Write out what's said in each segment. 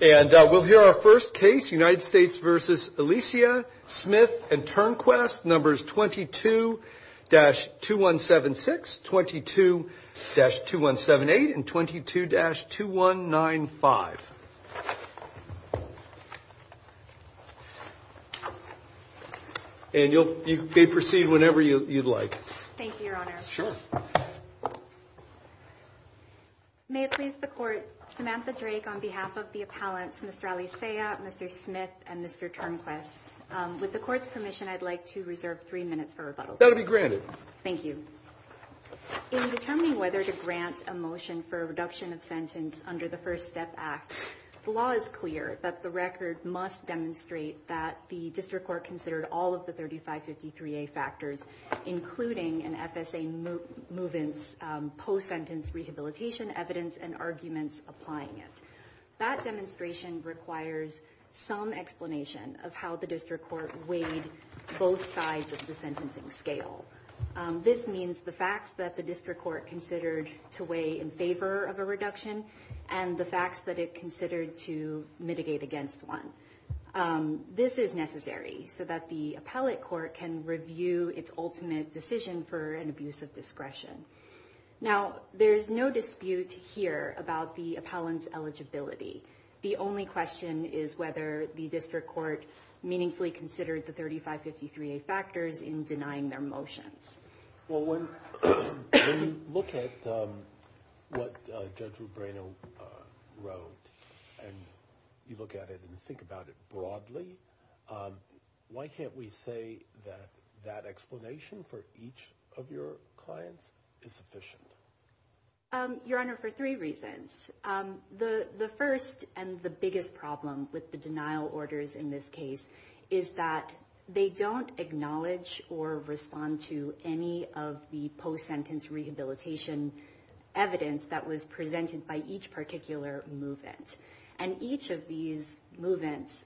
and we'll hear our first case United States versus Alicia Smith and turn quest numbers 22-2176 22-2178 and 22-2195 and you'll you may proceed whenever you like. Thank you. In determining whether to grant a motion for a reduction of sentence under the First Step Act, the law is clear that the record must demonstrate that the district court considered all of the 3553A factors including an FSA movance post-sentence rehabilitation evidence and arguments applying it. That demonstration requires some explanation of how the district court weighed both sides of the sentencing scale. This means the facts that the district court considered to weigh in favor of a reduction and the facts that it considered to mitigate against one. This is necessary so that the appellate court can review its ultimate decision for an abuse of discretion. Now there's no dispute here about the appellant's eligibility. The only question is whether the district court meaningfully considered the 3553A factors in denying their motions. Well when you look at what Judge Rubino wrote and you look at it and think about it broadly, why can't we say that that explanation for each of your clients is sufficient? Your Honor, for three reasons. The first and the biggest problem with the denial orders in this case is that they don't acknowledge or respond to any of the post-sentence rehabilitation evidence that was presented by each particular movant. And each of these movants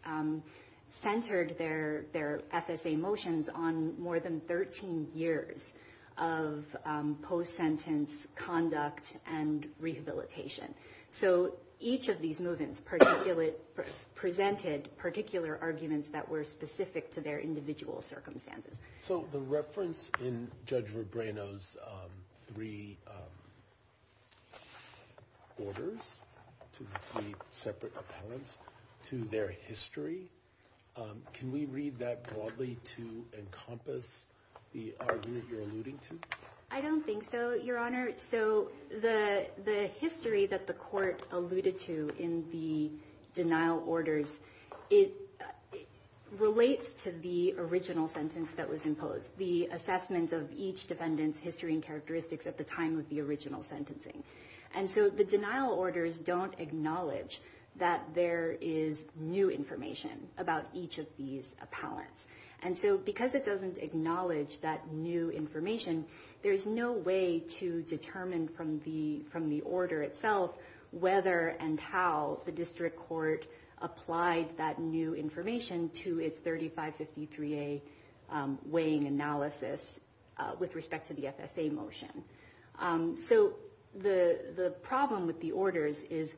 centered their FSA motions on more than 13 years of post-sentence conduct and rehabilitation. So each of these movants presented particular arguments that were specific to their individual circumstances. So the reference in Judge Rubino's three orders to three separate appellants to their history, can we read that broadly to encompass the argument you're alluding to? I don't think so, Your Honor. So the history that the court alluded to in the denial orders, it relates to the original sentence that was imposed, the assessment of each defendant's history and characteristics at the time of the original sentencing. And so the denial orders don't acknowledge that there is new information about each of these appellants. And so because it doesn't acknowledge that new information, there's no way to determine from the order itself whether and how the district court applied that new information to its 3553A weighing analysis with respect to the FSA motion. So the problem with the orders is,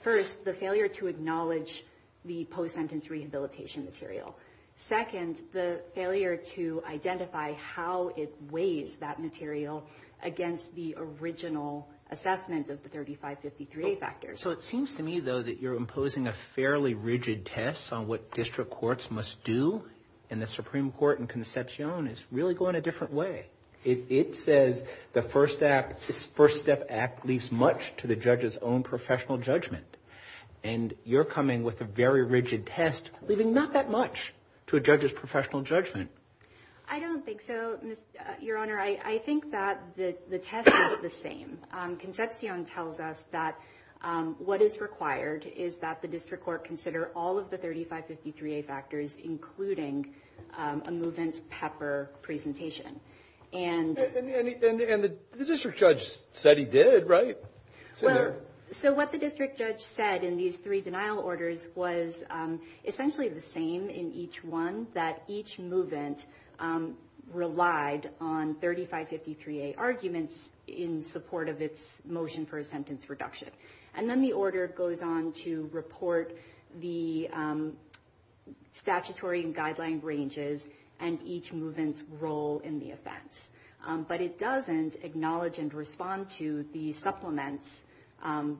first, the failure to acknowledge the post-sentence rehabilitation material. Second, the failure to identify how it weighs that material against the original assessment of the 3553A factors. So it seems to me, though, that you're imposing a fairly rigid test on what district courts must do. And the Supreme Court in Concepcion is really going a different way. It says the First Step Act leaves much to the judge's own professional judgment. And you're coming with a very rigid test, leaving not that much to a judge's professional judgment. I don't think so, Your Honor. I think that the tests are the same. Concepcion tells us that what is required is that the district court consider all of the 3553A factors, including a movement's pepper presentation. And the district judge said he did, right? So what the district judge said in these three denial orders was essentially the same in each one, that each movement relied on 3553A arguments in support of its motion for a sentence reduction. And then the order goes on to report the statutory and guideline ranges and each movement's role in the offense. But it doesn't acknowledge and respond to the supplements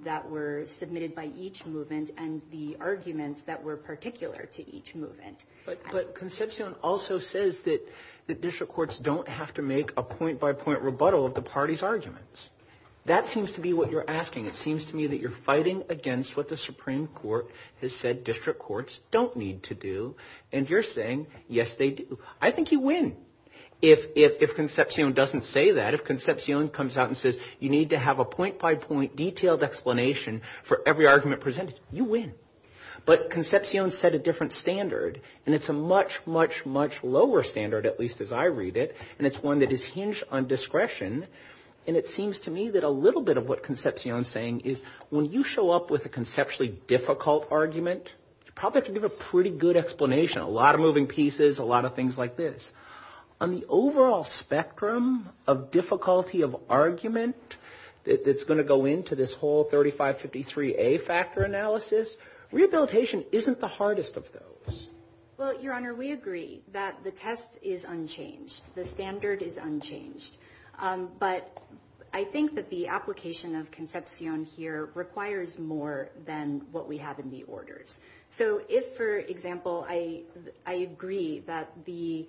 that were submitted by each movement and the arguments that were particular to each movement. But Concepcion also says that district courts don't have to make a point-by-point rebuttal of the party's arguments. That seems to be what you're asking. It seems to me that you're fighting against what the Supreme Court has said district courts don't need to do. And you're saying, yes, they do. I think you win if Concepcion doesn't say that. If Concepcion comes out and says, you need to have a point-by-point detailed explanation for every argument presented, you win. But Concepcion set a different standard, and it's a much, much, much lower standard, at least as I read it, and it's one that is hinged on discretion. And it seems to me that a little bit of what Concepcion's saying is when you show up with a conceptually difficult argument, you probably have to give a pretty good explanation, a lot of moving pieces, a lot of things like this. On the overall spectrum of difficulty of argument that's going to go into this whole 3553A factor analysis, rehabilitation isn't the hardest of those. Well, Your Honor, we agree that the test is unchanged. The standard is unchanged. But I think that the application of Concepcion here requires more than what we have in the orders. So if, for example, I agree that the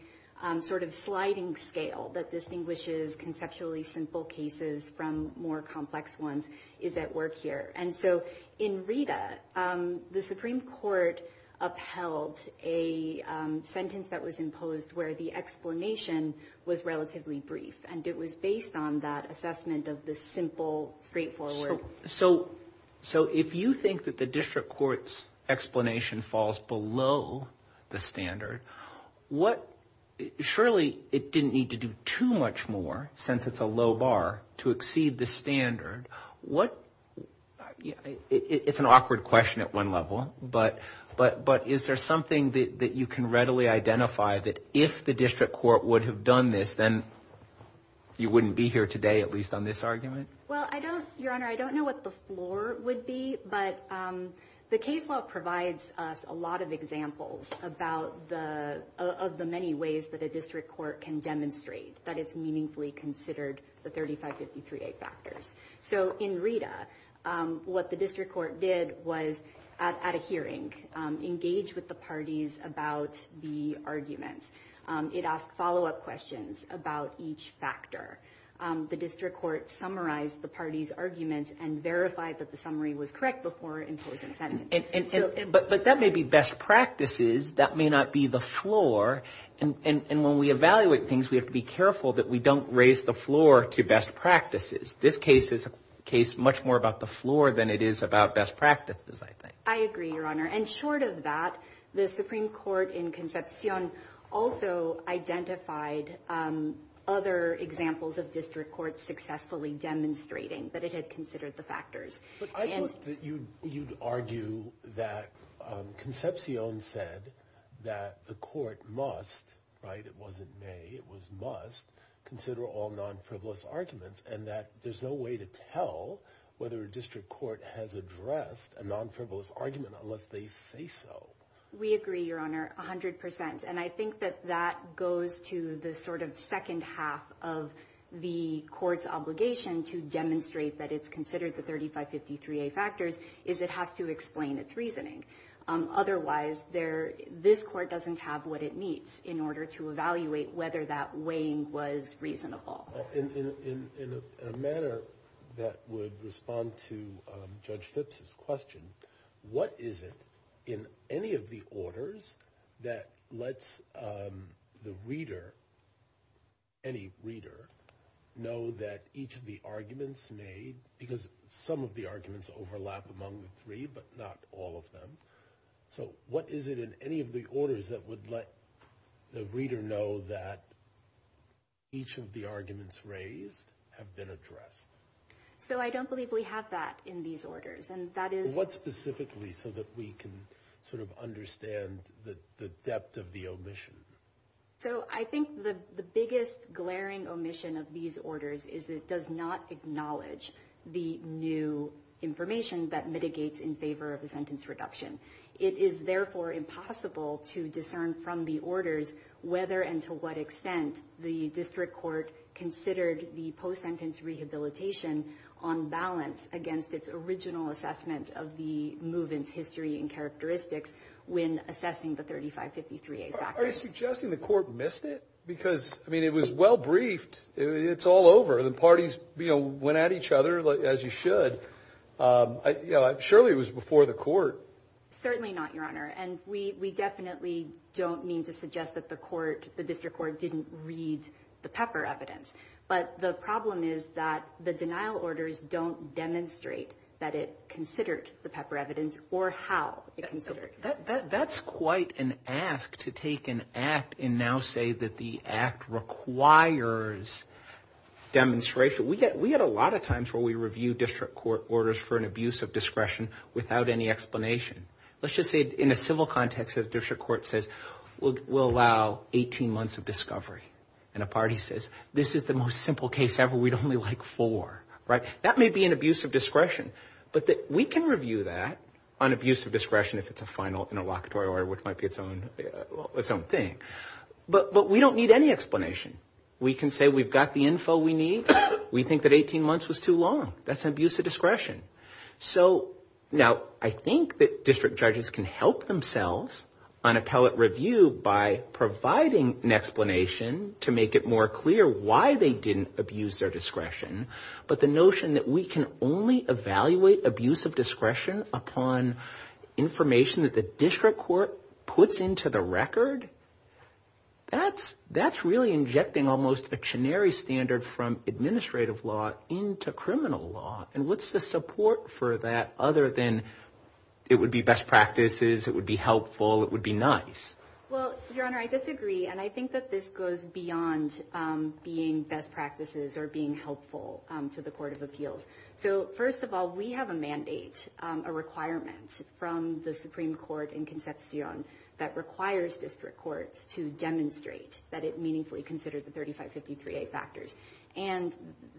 sort of sliding scale that distinguishes conceptually simple cases from more complex ones is at work here. And so in Rita, the Supreme Court upheld a sentence that was imposed where the explanation was relatively brief. And it was based on that assessment of the simple, straightforward. So if you think that the district court's explanation falls below the standard, surely it didn't need to do too much more, since it's a low bar, to exceed the standard. It's an awkward question at one level, but is there something that you can readily identify that if the district court would have done this, then you wouldn't be here today, at least on this argument? Well, Your Honor, I don't know what the floor would be, but the case law provides us a lot of examples of the many ways that a district court can demonstrate that it's meaningfully considered the 3553A factors. So in Rita, what the district court did was, at a hearing, engage with the parties about the arguments. It asked follow-up questions about each factor. The district court summarized the parties' arguments and verified that the summary was correct before imposing sentences. But that may be best practices. That may not be the floor. And when we evaluate things, we have to be careful that we don't raise the floor to best practices. This case is a case much more about the floor than it is about best practices, I think. I agree, Your Honor. And short of that, the Supreme Court in Concepcion also identified other examples of district courts successfully demonstrating that it had considered the factors. But I thought that you'd argue that Concepcion said that the court must, right, it wasn't may, it was must, consider all non-frivolous arguments, and that there's no way to tell whether a district court has addressed a non-frivolous argument unless they say so. We agree, Your Honor, 100%. And I think that that goes to the sort of second half of the court's obligation to demonstrate that it's considered the 3553A factors, is it has to explain its reasoning. Otherwise, this court doesn't have what it needs in order to evaluate whether that weighing was reasonable. In a manner that would respond to Judge Phipps' question, what is it in any of the orders that lets the reader, any reader, know that each of the arguments made, because some of the arguments overlap among the three, but not all of them, so what is it in any of the arguments raised have been addressed? So I don't believe we have that in these orders, and that is... What specifically so that we can sort of understand the depth of the omission? So I think the biggest glaring omission of these orders is it does not acknowledge the new information that mitigates in favor of a sentence reduction. It is therefore impossible to discern from the orders whether and to what extent the court considered the post-sentence rehabilitation on balance against its original assessment of the movement's history and characteristics when assessing the 3553A factors. Are you suggesting the court missed it? Because I mean, it was well briefed. It's all over. The parties, you know, went at each other as you should. Surely it was before the court. Certainly not, Your Honor. And we definitely don't mean to suggest that the court, the district court didn't read the Pepper evidence, but the problem is that the denial orders don't demonstrate that it considered the Pepper evidence or how it considered it. That's quite an ask to take an act and now say that the act requires demonstration. We get a lot of times where we review district court orders for an abuse of discretion without any explanation. Let's just say in a civil context that a district court says, we'll allow 18 months of discovery and a party says, this is the most simple case ever. We'd only like four, right? That may be an abuse of discretion, but we can review that on abuse of discretion if it's a final interlocutory order, which might be its own thing. But we don't need any explanation. We can say we've got the info we need. We think that 18 months was too long. That's an abuse of discretion. So now I think that district judges can help themselves on appellate review by providing an explanation to make it more clear why they didn't abuse their discretion. But the notion that we can only evaluate abuse of discretion upon information that the district court puts into the record, that's really injecting almost a canary standard from administrative law into criminal law. And what's the support for that other than it would be best practices, it would be helpful, it would be nice? Well, Your Honor, I disagree. And I think that this goes beyond being best practices or being helpful to the Court of Appeals. So first of all, we have a mandate, a requirement from the Supreme Court in Concepcion that requires district courts to demonstrate that it meaningfully considered the 3553A factors and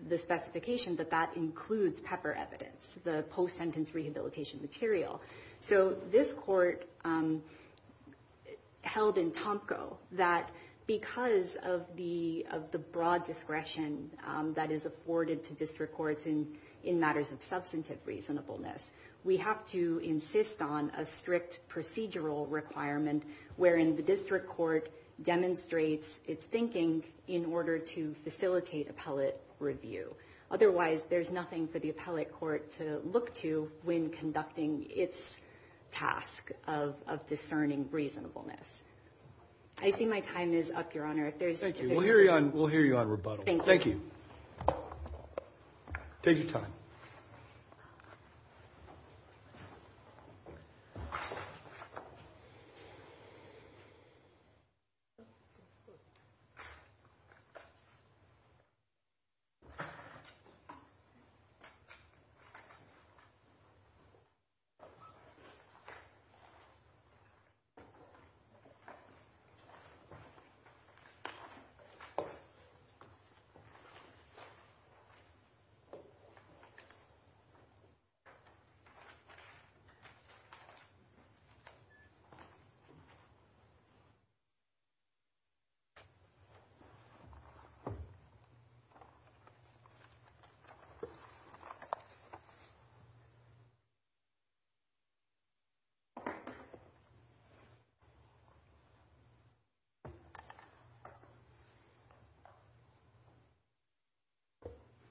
the specification that that includes PEPR evidence, the post-sentence rehabilitation material. So this court held in Tomko that because of the broad discretion that is afforded to district courts in matters of substantive reasonableness, we have to insist on a strict procedural requirement wherein the district court demonstrates its thinking in order to facilitate appellate review. Otherwise, there's nothing for the appellate court to look to when conducting its task of discerning reasonableness. I see my time is up, Your Honor. Thank you. We'll hear you on rebuttal. Thank you. Take your time. Thank you.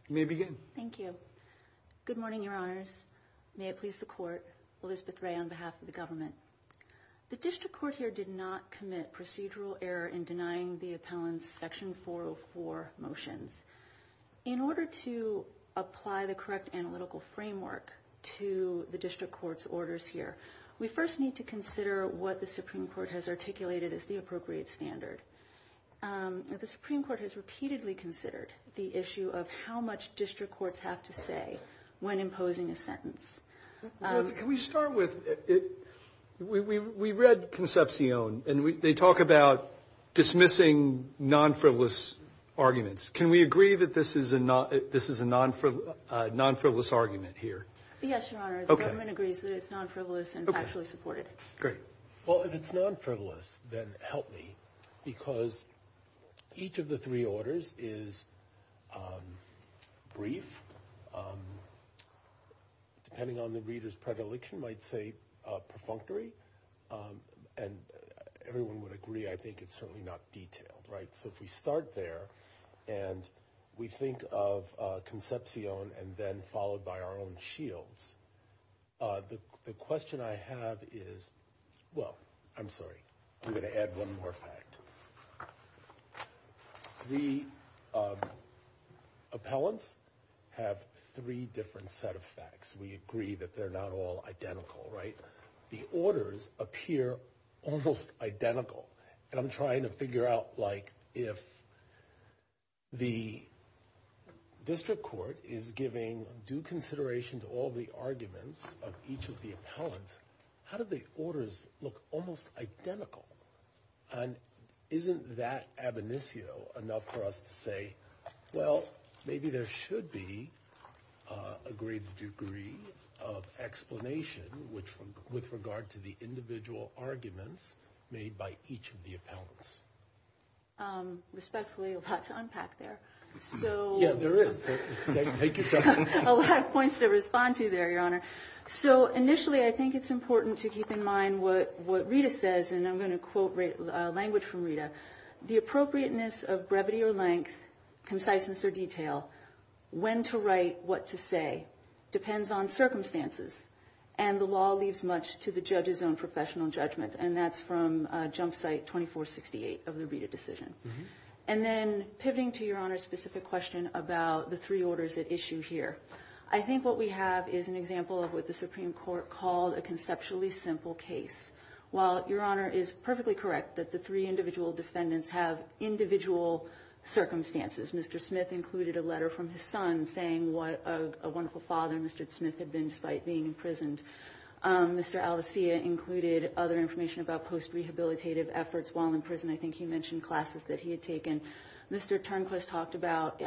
You may begin. Thank you. Good morning, your honors. May it please the court, Elizabeth Ray on behalf of the government. The district court here did not commit procedural error in denying the appellant's section 404 motions. In order to apply the correct analytical framework to the district court's orders here, we first need to consider what the Supreme Court has articulated as the appropriate standard. The Supreme Court has repeatedly considered the issue of how much district courts have to say when imposing a sentence. Can we start with, we read Concepcion, and they talk about dismissing non-frivolous arguments. Can we agree that this is a non-frivolous argument here? Yes, your honor. The government agrees that it's non-frivolous and factually supported. Great. Well, if it's non-frivolous, then help me. Because each of the three orders is brief, depending on the reader's predilection, might say perfunctory. And everyone would agree, I think, it's certainly not detailed. So if we start there and we think of Concepcion and then followed by our own Shields, the question I have is, well, I'm sorry. I'm going to add one more fact. The appellants have three different set of facts. We agree that they're not all identical, right? The orders appear almost identical. And I'm trying to figure out, like, if the district court is giving due consideration to all the arguments of each of the appellants, how do the orders look almost identical? And isn't that ab initio enough for us to say, well, maybe there should be a greater degree of explanation with regard to the individual arguments made by each of the appellants? Respectfully, a lot to unpack there. So. Yeah, there is. So take your time. A lot of points to respond to there, your honor. So initially, I think it's important to keep in mind what Rita says. And I'm going to quote language from Rita. The appropriateness of brevity or length, conciseness or detail, when to write, what to say, depends on circumstances. And the law leaves much to the judge's own professional judgment. And that's from jump site 2468 of the Rita decision. And then pivoting to your honor's specific question about the three orders at issue here, I think what we have is an example of what the Supreme Court called a conceptually simple case. While your honor is perfectly correct that the three individual defendants have individual circumstances. Mr. Smith included a letter from his son saying what a wonderful father Mr. Smith had been despite being imprisoned. Mr. Alessia included other information about post-rehabilitative efforts while in prison. I think he mentioned classes that he had taken. Mr. Turnquist talked about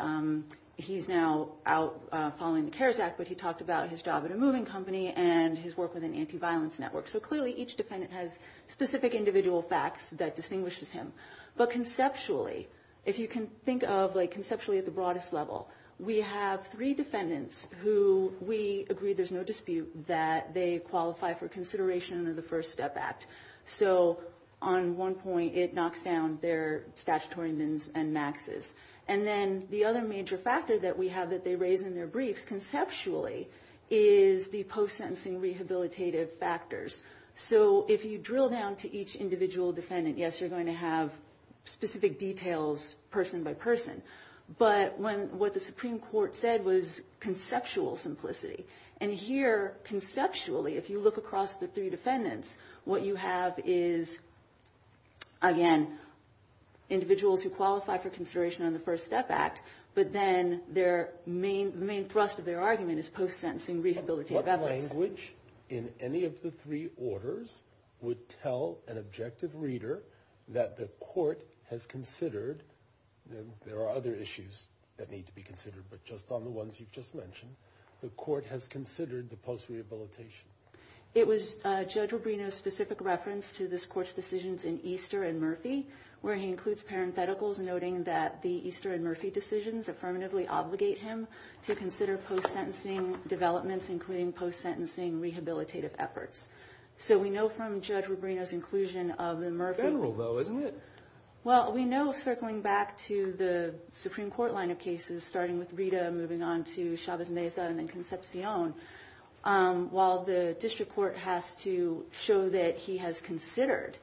he's now out following the CARES Act, but he talked about his job at a moving company and his work with an anti-violence network. So clearly, each defendant has specific individual facts that distinguishes him. But conceptually, if you can think of conceptually at the broadest level, we have three defendants who we agree there's no dispute that they qualify for consideration under the First Step Act. So on one point, it knocks down their statutory mins and maxes. And then the other major factor that we focus conceptually is the post-sentencing rehabilitative factors. So if you drill down to each individual defendant, yes, you're going to have specific details person by person. But what the Supreme Court said was conceptual simplicity. And here, conceptually, if you look across the three defendants, what you have is, again, individuals who qualify for consideration on the First Step Act. But then the main thrust of their argument is post-sentencing rehabilitative evidence. What language in any of the three orders would tell an objective reader that the court has considered? There are other issues that need to be considered, but just on the ones you've just mentioned, the court has considered the post-rehabilitation. It was Judge Rubino's specific reference to this court's decisions in Easter and Murphy, where he includes parentheticals noting that the Easter and Murphy decisions affirmatively obligate him to consider post-sentencing developments, including post-sentencing rehabilitative efforts. So we know from Judge Rubino's inclusion of the Murphy. General, though, isn't it? Well, we know, circling back to the Supreme Court line of cases, starting with Rita, moving on to Chavez Meza, and then Concepcion, while the district court has to show that he has considered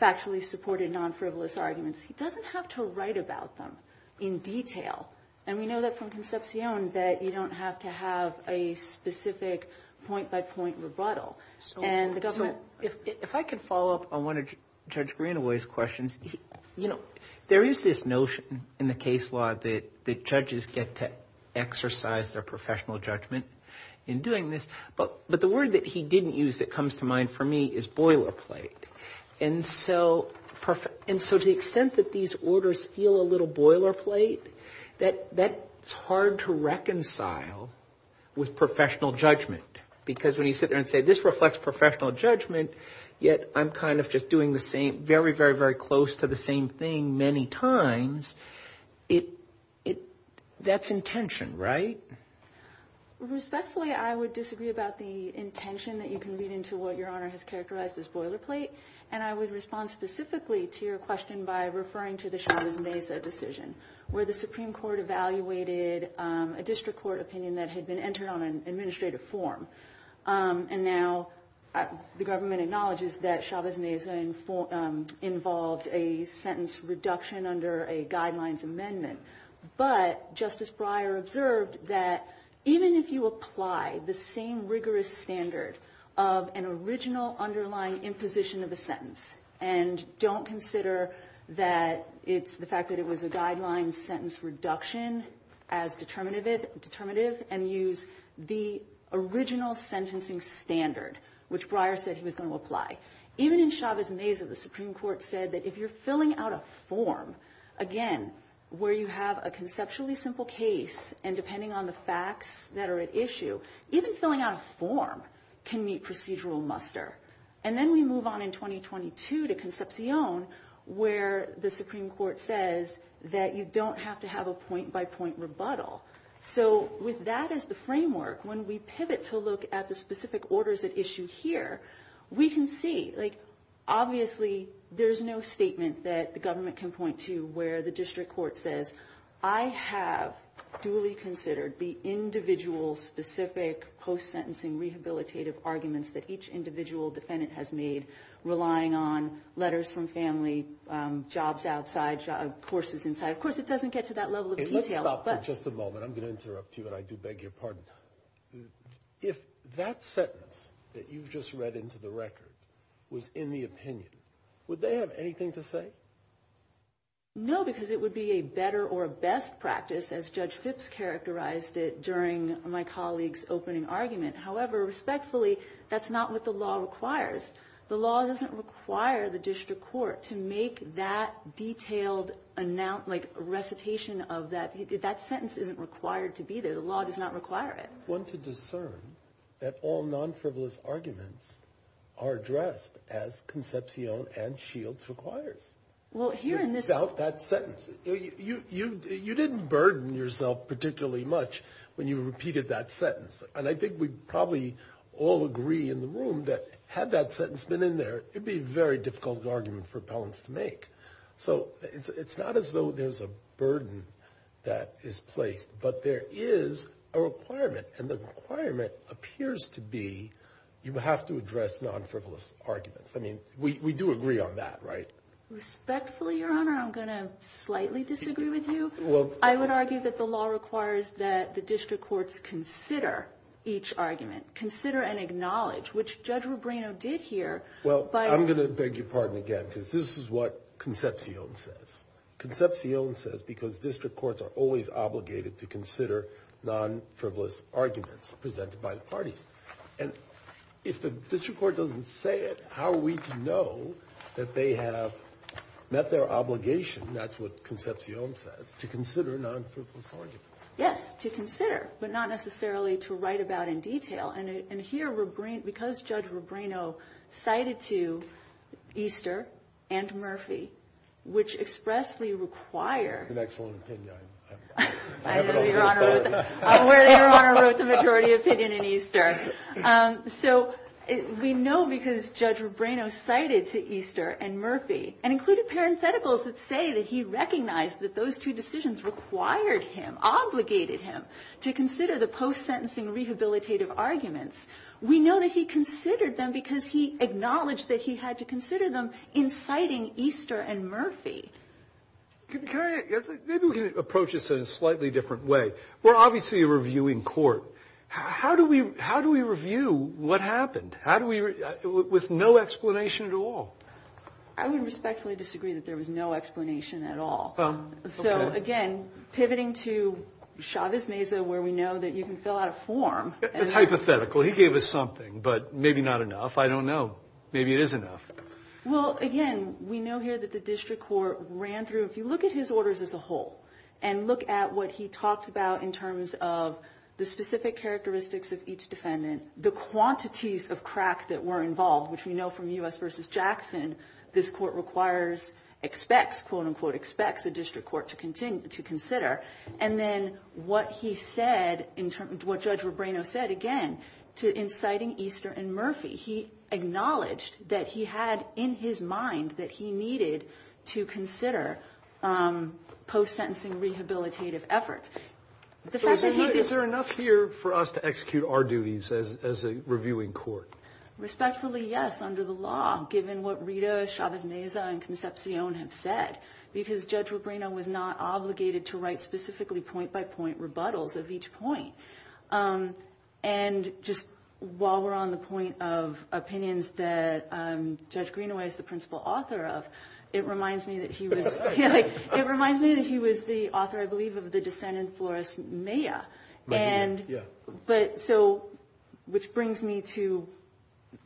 factually supported non-frivolous arguments, he doesn't have to write about them in detail. And we know that from Concepcion that you don't have to have a specific point-by-point rebuttal. And the government. If I could follow up on one of Judge Greenaway's questions, there is this notion in the case law that the judges get to exercise their professional judgment in doing this, but the word that he didn't use that comes to mind for me is boilerplate. And so to the extent that these orders feel a little boilerplate, that's hard to reconcile with professional judgment. Because when you sit there and say, this reflects professional judgment, yet I'm kind of just doing the same, very, very, very close to the same thing many times, that's intention, right? Respectfully, I would disagree about the intention that you can lead into what Your Honor has characterized as boilerplate. And I would respond specifically to your question by referring to the Chavez-Mesa decision, where the Supreme Court evaluated a district court opinion that had been entered on an administrative form. And now the government acknowledges that Chavez-Mesa involved a sentence reduction under a guidelines amendment. But Justice Breyer observed that even if you apply the same rigorous standard of an original underlying imposition of a sentence, and don't consider that it's the fact that it was a guideline sentence reduction as determinative, and use the original sentencing standard, which Breyer said he was going to apply. Even in Chavez-Mesa, the Supreme Court said that if you're filling out a form, again, where you have a conceptually simple case, and depending on the facts that are at issue, even filling out a form can meet procedural muster. And then we move on in 2022 to Concepcion, where the Supreme Court says that you don't have to have a point-by-point rebuttal. So with that as the framework, when we pivot to look at the specific orders at issue here, we can see, obviously, there's no statement that the government can point to where the district court says, I have duly considered the individual specific post-sentencing rehabilitative arguments that each individual defendant has made, relying on letters from family, jobs outside, courses inside. Of course, it doesn't get to that level of detail. Let's stop for just a moment. I'm going to interrupt you, and I do beg your pardon. If that sentence that you've just read into the record was in the opinion, would they have anything to say? No, because it would be a better or a best practice, as Judge Phipps characterized it during my colleague's opening argument. However, respectfully, that's not what the law requires. The law doesn't require the district court to make that detailed recitation of that. That sentence isn't required to be there. The law does not require it. One to discern that all non-frivolous arguments are addressed as Concepcion and Shields requires. Well, here in this- Without that sentence. You didn't burden yourself particularly much when you repeated that sentence. And I think we probably all agree in the room that had that sentence been in there, it'd be a very difficult argument for appellants to make. So it's not as though there's a burden that is placed, but there is a requirement. And the requirement appears to be you have to address non-frivolous arguments. I mean, we do agree on that, right? Respectfully, Your Honor, I'm going to slightly disagree with you. I would argue that the law requires that the district courts consider each argument, consider and acknowledge, which Judge Rubino did here. Well, I'm going to beg your pardon again, because this is what Concepcion says. Concepcion says because district courts are always obligated to consider non-frivolous arguments presented by the parties. And if the district court doesn't say it, how are we to know that they have met their obligation, that's what Concepcion says, to consider non-frivolous arguments? Yes, to consider, but not necessarily to write about in detail. And here, because Judge Rubino cited to Easter and Murphy, which expressly required. It's an excellent opinion. I'm aware that Your Honor wrote the majority opinion in Easter. So we know because Judge Rubino cited to Easter and Murphy, and included parentheticals that say that he recognized that those two decisions required him, obligated him, to consider the post-sentencing rehabilitative arguments. We know that he considered them because he acknowledged that he had to consider them in citing Easter and Murphy. Maybe we can approach this in a slightly different way. We're obviously a reviewing court. How do we review what happened? How do we, with no explanation at all? I would respectfully disagree that there was no explanation at all. So again, pivoting to Chavez Meza, where we know that you can fill out a form. It's hypothetical. He gave us something, but maybe not enough. I don't know. Maybe it is enough. Well, again, we know here that the district court ran through, if you look at his orders as a whole, and look at what he talked about in terms of the specific characteristics of each defendant, the quantities of crack that were involved, which we know from U.S. versus Jackson, this court requires, expects, quote unquote, expects a district court to consider. And then what he said, what Judge Rubrino said, again, to inciting Easter and Murphy, he acknowledged that he had in his mind that he needed to consider post-sentencing rehabilitative efforts. The fact that he did- Is there enough here for us to execute our duties as a reviewing court? Respectfully, yes, under the law, given what Rita Chavez Meza and Concepcion have said, because Judge Rubrino was not obligated to write specifically point-by-point rebuttals of each point. And just while we're on the point of opinions that Judge Greenaway is the principal author of, it reminds me that he was, it reminds me that he was the author, I believe, of the dissent in Flores-Meja. And, but so, which brings me to,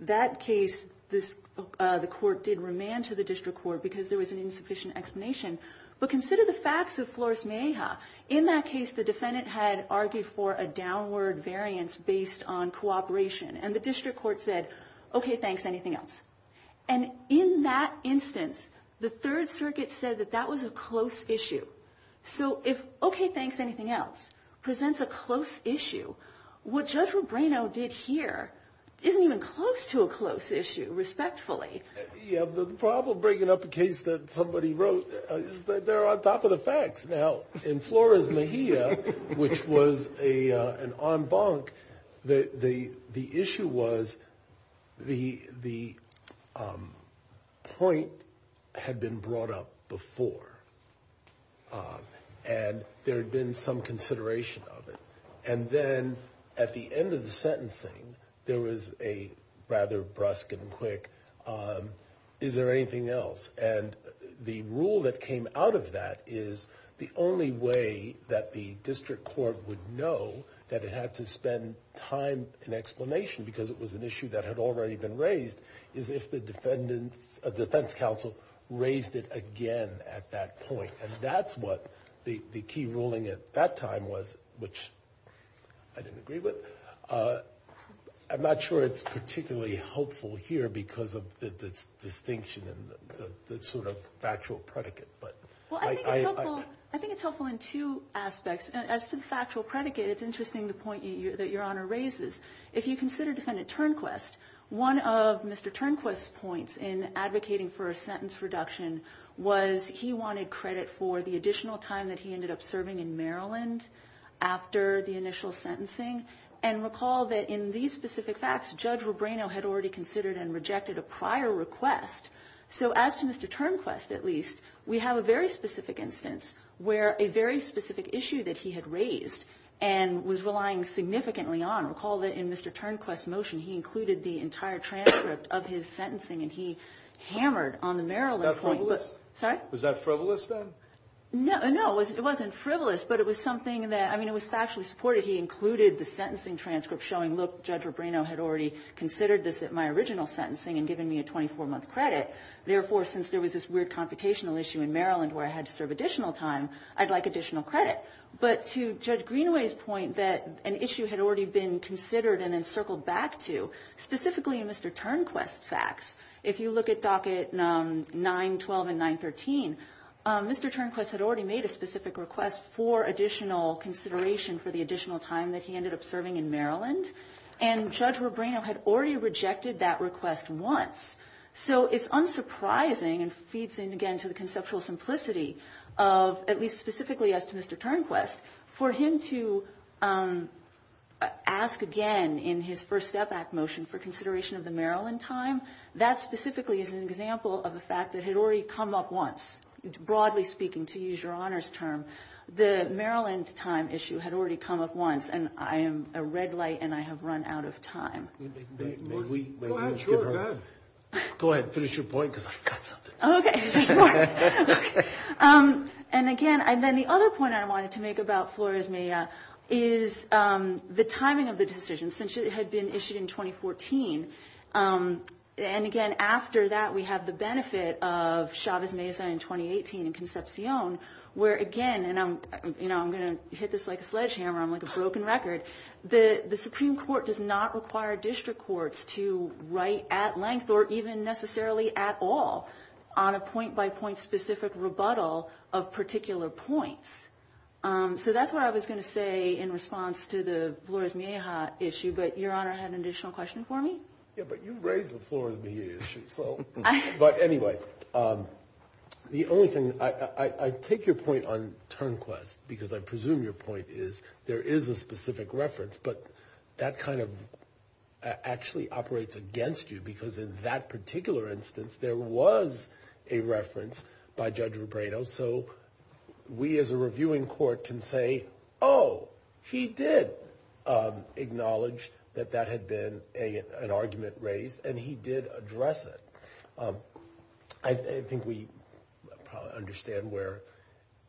that case, the court did remand to the district court because there was an insufficient explanation. But consider the facts of Flores-Meja. In that case, the defendant had argued for a downward variance based on cooperation. And the district court said, okay, thanks, anything else? And in that instance, the Third Circuit said that that was a close issue. So if, okay, thanks, anything else, presents a close issue, what Judge Rubrino did here isn't even close to a close issue, respectfully. Yeah, the problem breaking up a case that somebody wrote is that they're on top of the facts. Now, in Flores-Meja, which was an en banc, the issue was the point had been brought up before. And there had been some consideration of it. And then at the end of the sentencing, there was a rather brusque and quick, is there anything else? And the rule that came out of that is the only way that the district court would know that it had to spend time in explanation because it was an issue that had already been raised is if the defense counsel raised it again at that point. And that's what the key ruling at that time was, which I didn't agree with. I'm not sure it's particularly helpful here because of the distinction and the sort of factual predicate. Well, I think it's helpful in two aspects. As to the factual predicate, it's interesting the point that Your Honor raises. If you consider Defendant Turnquist, one of Mr. Turnquist's points in advocating for a sentence reduction was he wanted credit for the additional time that he ended up serving in Maryland after the initial sentencing. And recall that in these specific facts, Judge Rubino had already considered and rejected a prior request. So as to Mr. Turnquist, at least, we have a very specific instance where a very specific issue that he had raised and was relying significantly on, recall that in Mr. Turnquist's motion, he included the entire transcript of his sentencing and he hammered on the Maryland point. Was that frivolous? Sorry? Was that frivolous then? No, it wasn't frivolous, but it was something that, I mean, it was factually supported. He included the sentencing transcript showing, look, Judge Rubino had already considered this at my original sentencing and given me a 24-month credit. Therefore, since there was this weird computational issue in Maryland where I had to serve additional time, I'd like additional credit. But to Judge Greenaway's point that an issue had already been considered and then circled back to, specifically in Mr. Turnquist's facts, if you look at docket 9-12 and 9-13, Mr. Turnquist had already made a specific request for additional consideration for the additional time that he ended up serving in Maryland and Judge Rubino had already rejected that request once. So it's unsurprising and feeds in again to the conceptual simplicity of, at least specifically as to Mr. Turnquist, for him to ask again in his first step back motion for consideration of the Maryland time. That specifically is an example of a fact that had already come up once, broadly speaking, to use your honor's term. The Maryland time issue had already come up once and I am a red light and I have run out of time. Go ahead, go ahead. Go ahead, finish your point because I've got something. Okay. And again, and then the other point I wanted to make about Flores-Méa is the timing of the decision since it had been issued in 2014. And again, after that, we have the benefit of Chavez-Méa in 2018 in Concepcion where again, and I'm gonna hit this like a sledgehammer, I'm like a broken record. The Supreme Court does not require district courts to write at length or even necessarily at all on a point-by-point specific rebuttal of particular points. So that's what I was gonna say in response to the Flores-Méa issue, but your honor had an additional question for me. Yeah, but you raised the Flores-Méa issue, so. But anyway, the only thing, I take your point on turnquest because I presume your point is there is a specific reference, but that kind of actually operates against you because in that particular instance, there was a reference by Judge Robredo. So we as a reviewing court can say, oh, he did acknowledge that that had been an argument raised and he did address it. I think we probably understand where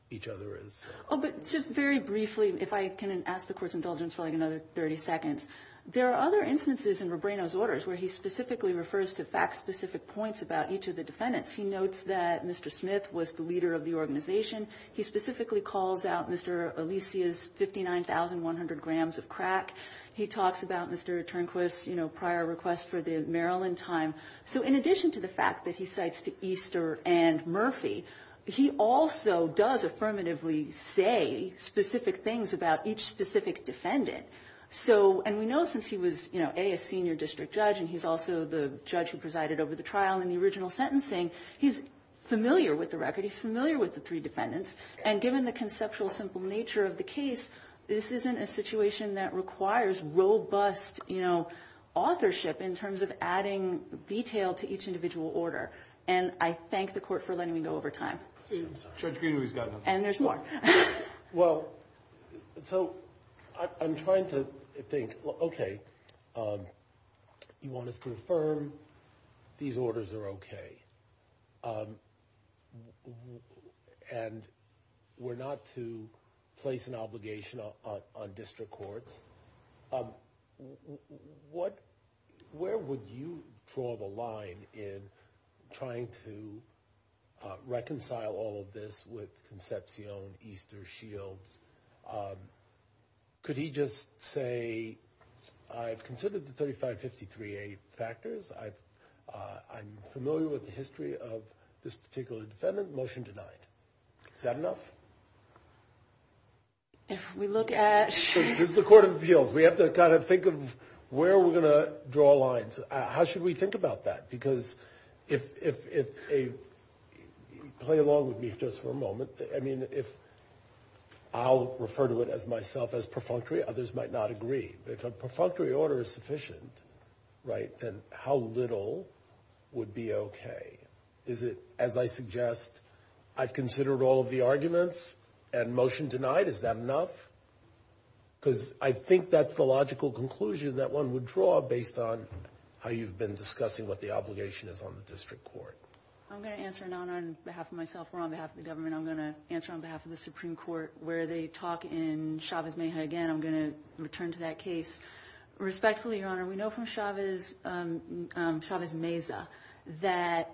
each other is. Oh, but just very briefly, if I can ask the court's indulgence for like another 30 seconds. There are other instances in Robredo's orders where he specifically refers to fact-specific points about each of the defendants. He notes that Mr. Smith was the leader of the organization. He specifically calls out Mr. Alicia's 59,100 grams of crack. He talks about Mr. Turnquist's prior request for the Maryland time. So in addition to the fact that he cites to Easter and Murphy he also does affirmatively say specific things about each specific defendant. So, and we know since he was, A, a senior district judge and he's also the judge who presided over the trial in the original sentencing, he's familiar with the record. He's familiar with the three defendants. And given the conceptual simple nature of the case, this isn't a situation that requires robust, you know, authorship in terms of adding detail to each individual order. And I thank the court for letting me go over time. Judge Greene, we've got enough. And there's more. Well, so I'm trying to think, okay, you want us to affirm these orders are okay. And we're not to place an obligation on district courts. What, where would you draw the line in trying to reconcile all of this with Concepcion, Easter, Shields? Could he just say, I've considered the 3553A factors. I'm familiar with the history of this particular defendant, motion denied. Is that enough? If we look at. This is the court of appeals. We have to kind of think of where we're gonna draw lines. How should we think about that? Because if, play along with me just for a moment. I mean, if I'll refer to it as myself as perfunctory, others might not agree. If a perfunctory order is sufficient, right, then how little would be okay? Is it, as I suggest, I've considered all of the arguments and motion denied, is that enough? Because I think that's the logical conclusion that one would draw based on how you've been discussing what the obligation is on the district court. I'm gonna answer, not on behalf of myself, or on behalf of the government. I'm gonna answer on behalf of the Supreme Court where they talk in Chavez-Meja again. I'm gonna return to that case. Respectfully, Your Honor, we know from Chavez-Meja that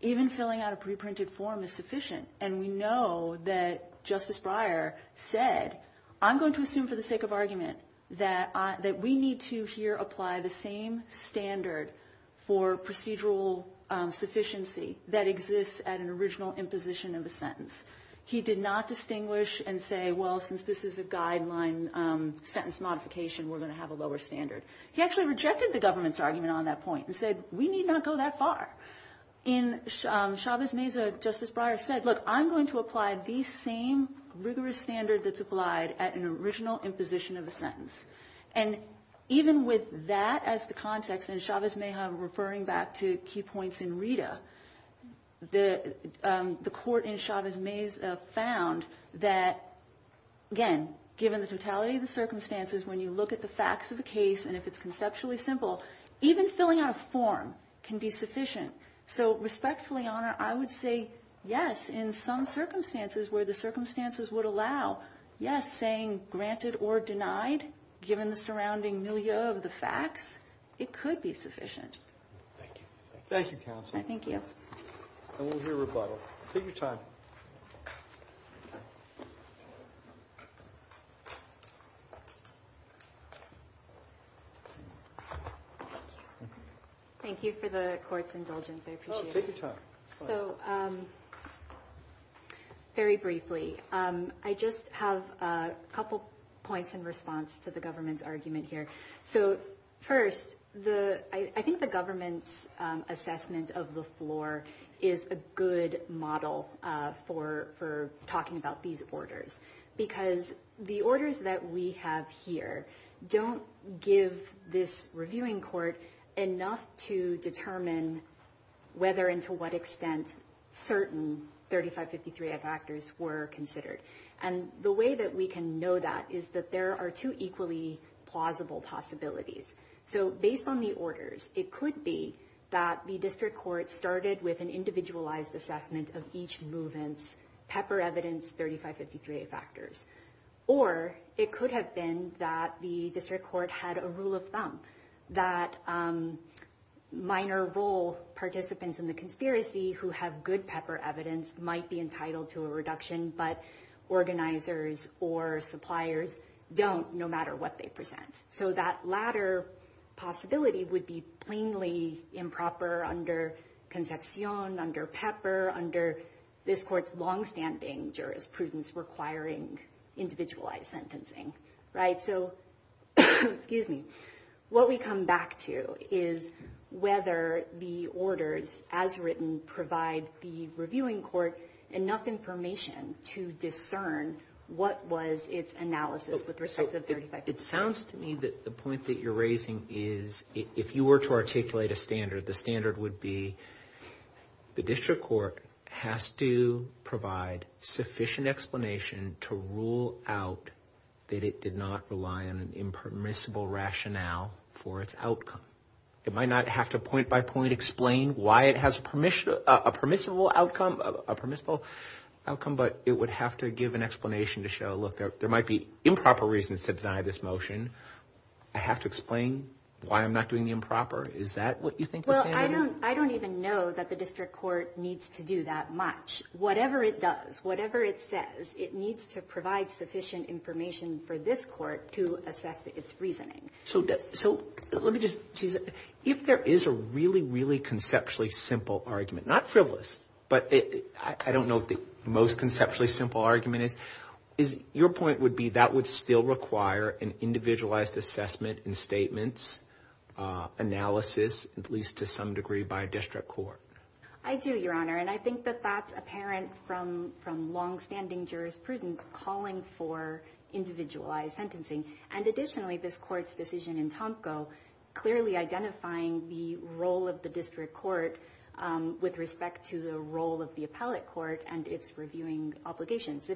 even filling out a pre-printed form is sufficient. And we know that Justice Breyer said, I'm going to assume for the sake of argument that we need to here apply the same standard for procedural sufficiency that exists at an original imposition of a sentence. He did not distinguish and say, well, since this is a guideline sentence modification, we're gonna have a lower standard. He actually rejected the government's argument on that point and said, we need not go that far. In Chavez-Meja, Justice Breyer said, look, I'm going to apply the same rigorous standard that's applied at an original imposition of a sentence. And even with that as the context, and Chavez-Meja referring back to key points in Rita, the court in Chavez-Meja found that, again, given the totality of the circumstances, when you look at the facts of the case, and if it's conceptually simple, even filling out a form can be sufficient. So respectfully, Your Honor, I would say yes, in some circumstances where the circumstances would allow, yes, saying granted or denied, given the surrounding milieu of the facts, it could be sufficient. Thank you. Thank you, counsel. Thank you. And we'll hear rebuttal. Take your time. Thank you for the court's indulgence. I appreciate it. Oh, take your time. So, very briefly, I just have a couple points in response to the government's argument here. So, first, I think the government's assessment of the floor is a good model for talking about these orders, because the orders that we have here don't give this reviewing court enough to determine whether and to what extent certain 3553A factors were considered. And the way that we can know that is that there are two equally plausible possibilities. So, based on the orders, it could be that the district court started with an individualized assessment of each movement's pepper evidence 3553A factors. Or it could have been that the district court had a rule of thumb, that minor role participants in the conspiracy who have good pepper evidence might be entitled to a reduction, but organizers or suppliers don't, no matter what they present. So, that latter possibility would be plainly improper under Concepcion, under Pepper, under this court's longstanding jurisprudence requiring individualized sentencing, right? So, excuse me. What we come back to is whether the orders, as written, provide the reviewing court enough information to discern what was its analysis with respect to 3553A. It sounds to me that the point that you're raising is if you were to articulate a standard, the standard would be the district court has to provide sufficient explanation to rule out that it did not rely on an impermissible rationale for its outcome. It might not have to point by point explain why it has a permissible outcome, but it would have to give an explanation to show, look, there might be improper reasons to deny this motion. I have to explain why I'm not doing the improper. Is that what you think the standard is? I don't even know that the district court needs to do that much. Whatever it does, whatever it says, it needs to provide sufficient information for this court to assess its reasoning. So, let me just tease it. If there is a really, really conceptually simple argument, not frivolous, but I don't know if the most conceptually simple argument is, your point would be that would still require an individualized assessment and statements analysis, at least to some degree, by a district court. I do, Your Honor. And I think that that's apparent from longstanding jurisprudence calling for individualized sentencing. And additionally, this court's decision in Tomko clearly identifying the role of the district court with respect to the role of the appellate court and its reviewing obligations.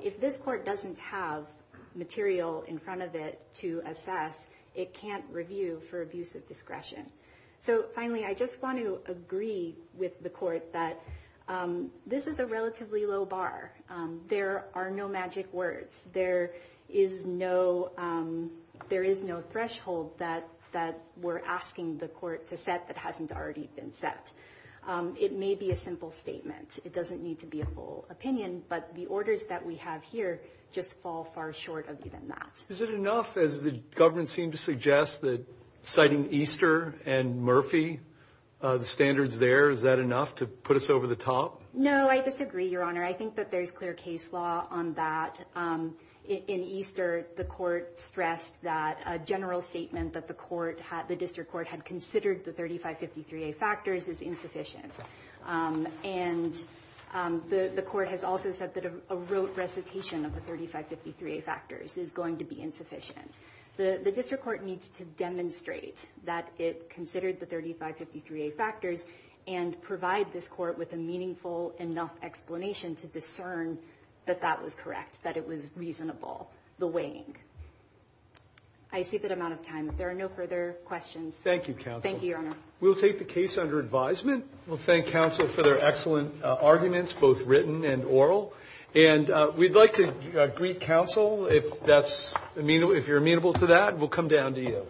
If this court doesn't have material in front of it to assess, it can't review for abuse of discretion. So, finally, I just want to agree with the court that this is a relatively low bar. There are no magic words. There is no threshold that we're asking the court to set that hasn't already been set. It may be a simple statement. It doesn't need to be a full opinion, but the orders that we have here just fall far short of even that. Is it enough, as the government seemed to suggest, that citing Easter and Murphy, the standards there, is that enough to put us over the top? No, I disagree, Your Honor. I think that there's clear case law on that. In Easter, the court stressed that a general statement that the district court had considered the 3553A factors is insufficient. And the court has also said that a rote recitation of the 3553A factors is going to be insufficient. The district court needs to demonstrate that it considered the 3553A factors and provide this court with a meaningful enough explanation to discern that that was correct, that it was reasonable, the weighing. I see that I'm out of time. If there are no further questions. Thank you, counsel. Thank you, Your Honor. We'll take the case under advisement. We'll thank counsel for their excellent arguments, both written and oral. And we'd like to greet counsel if you're amenable to that. We'll come down to you.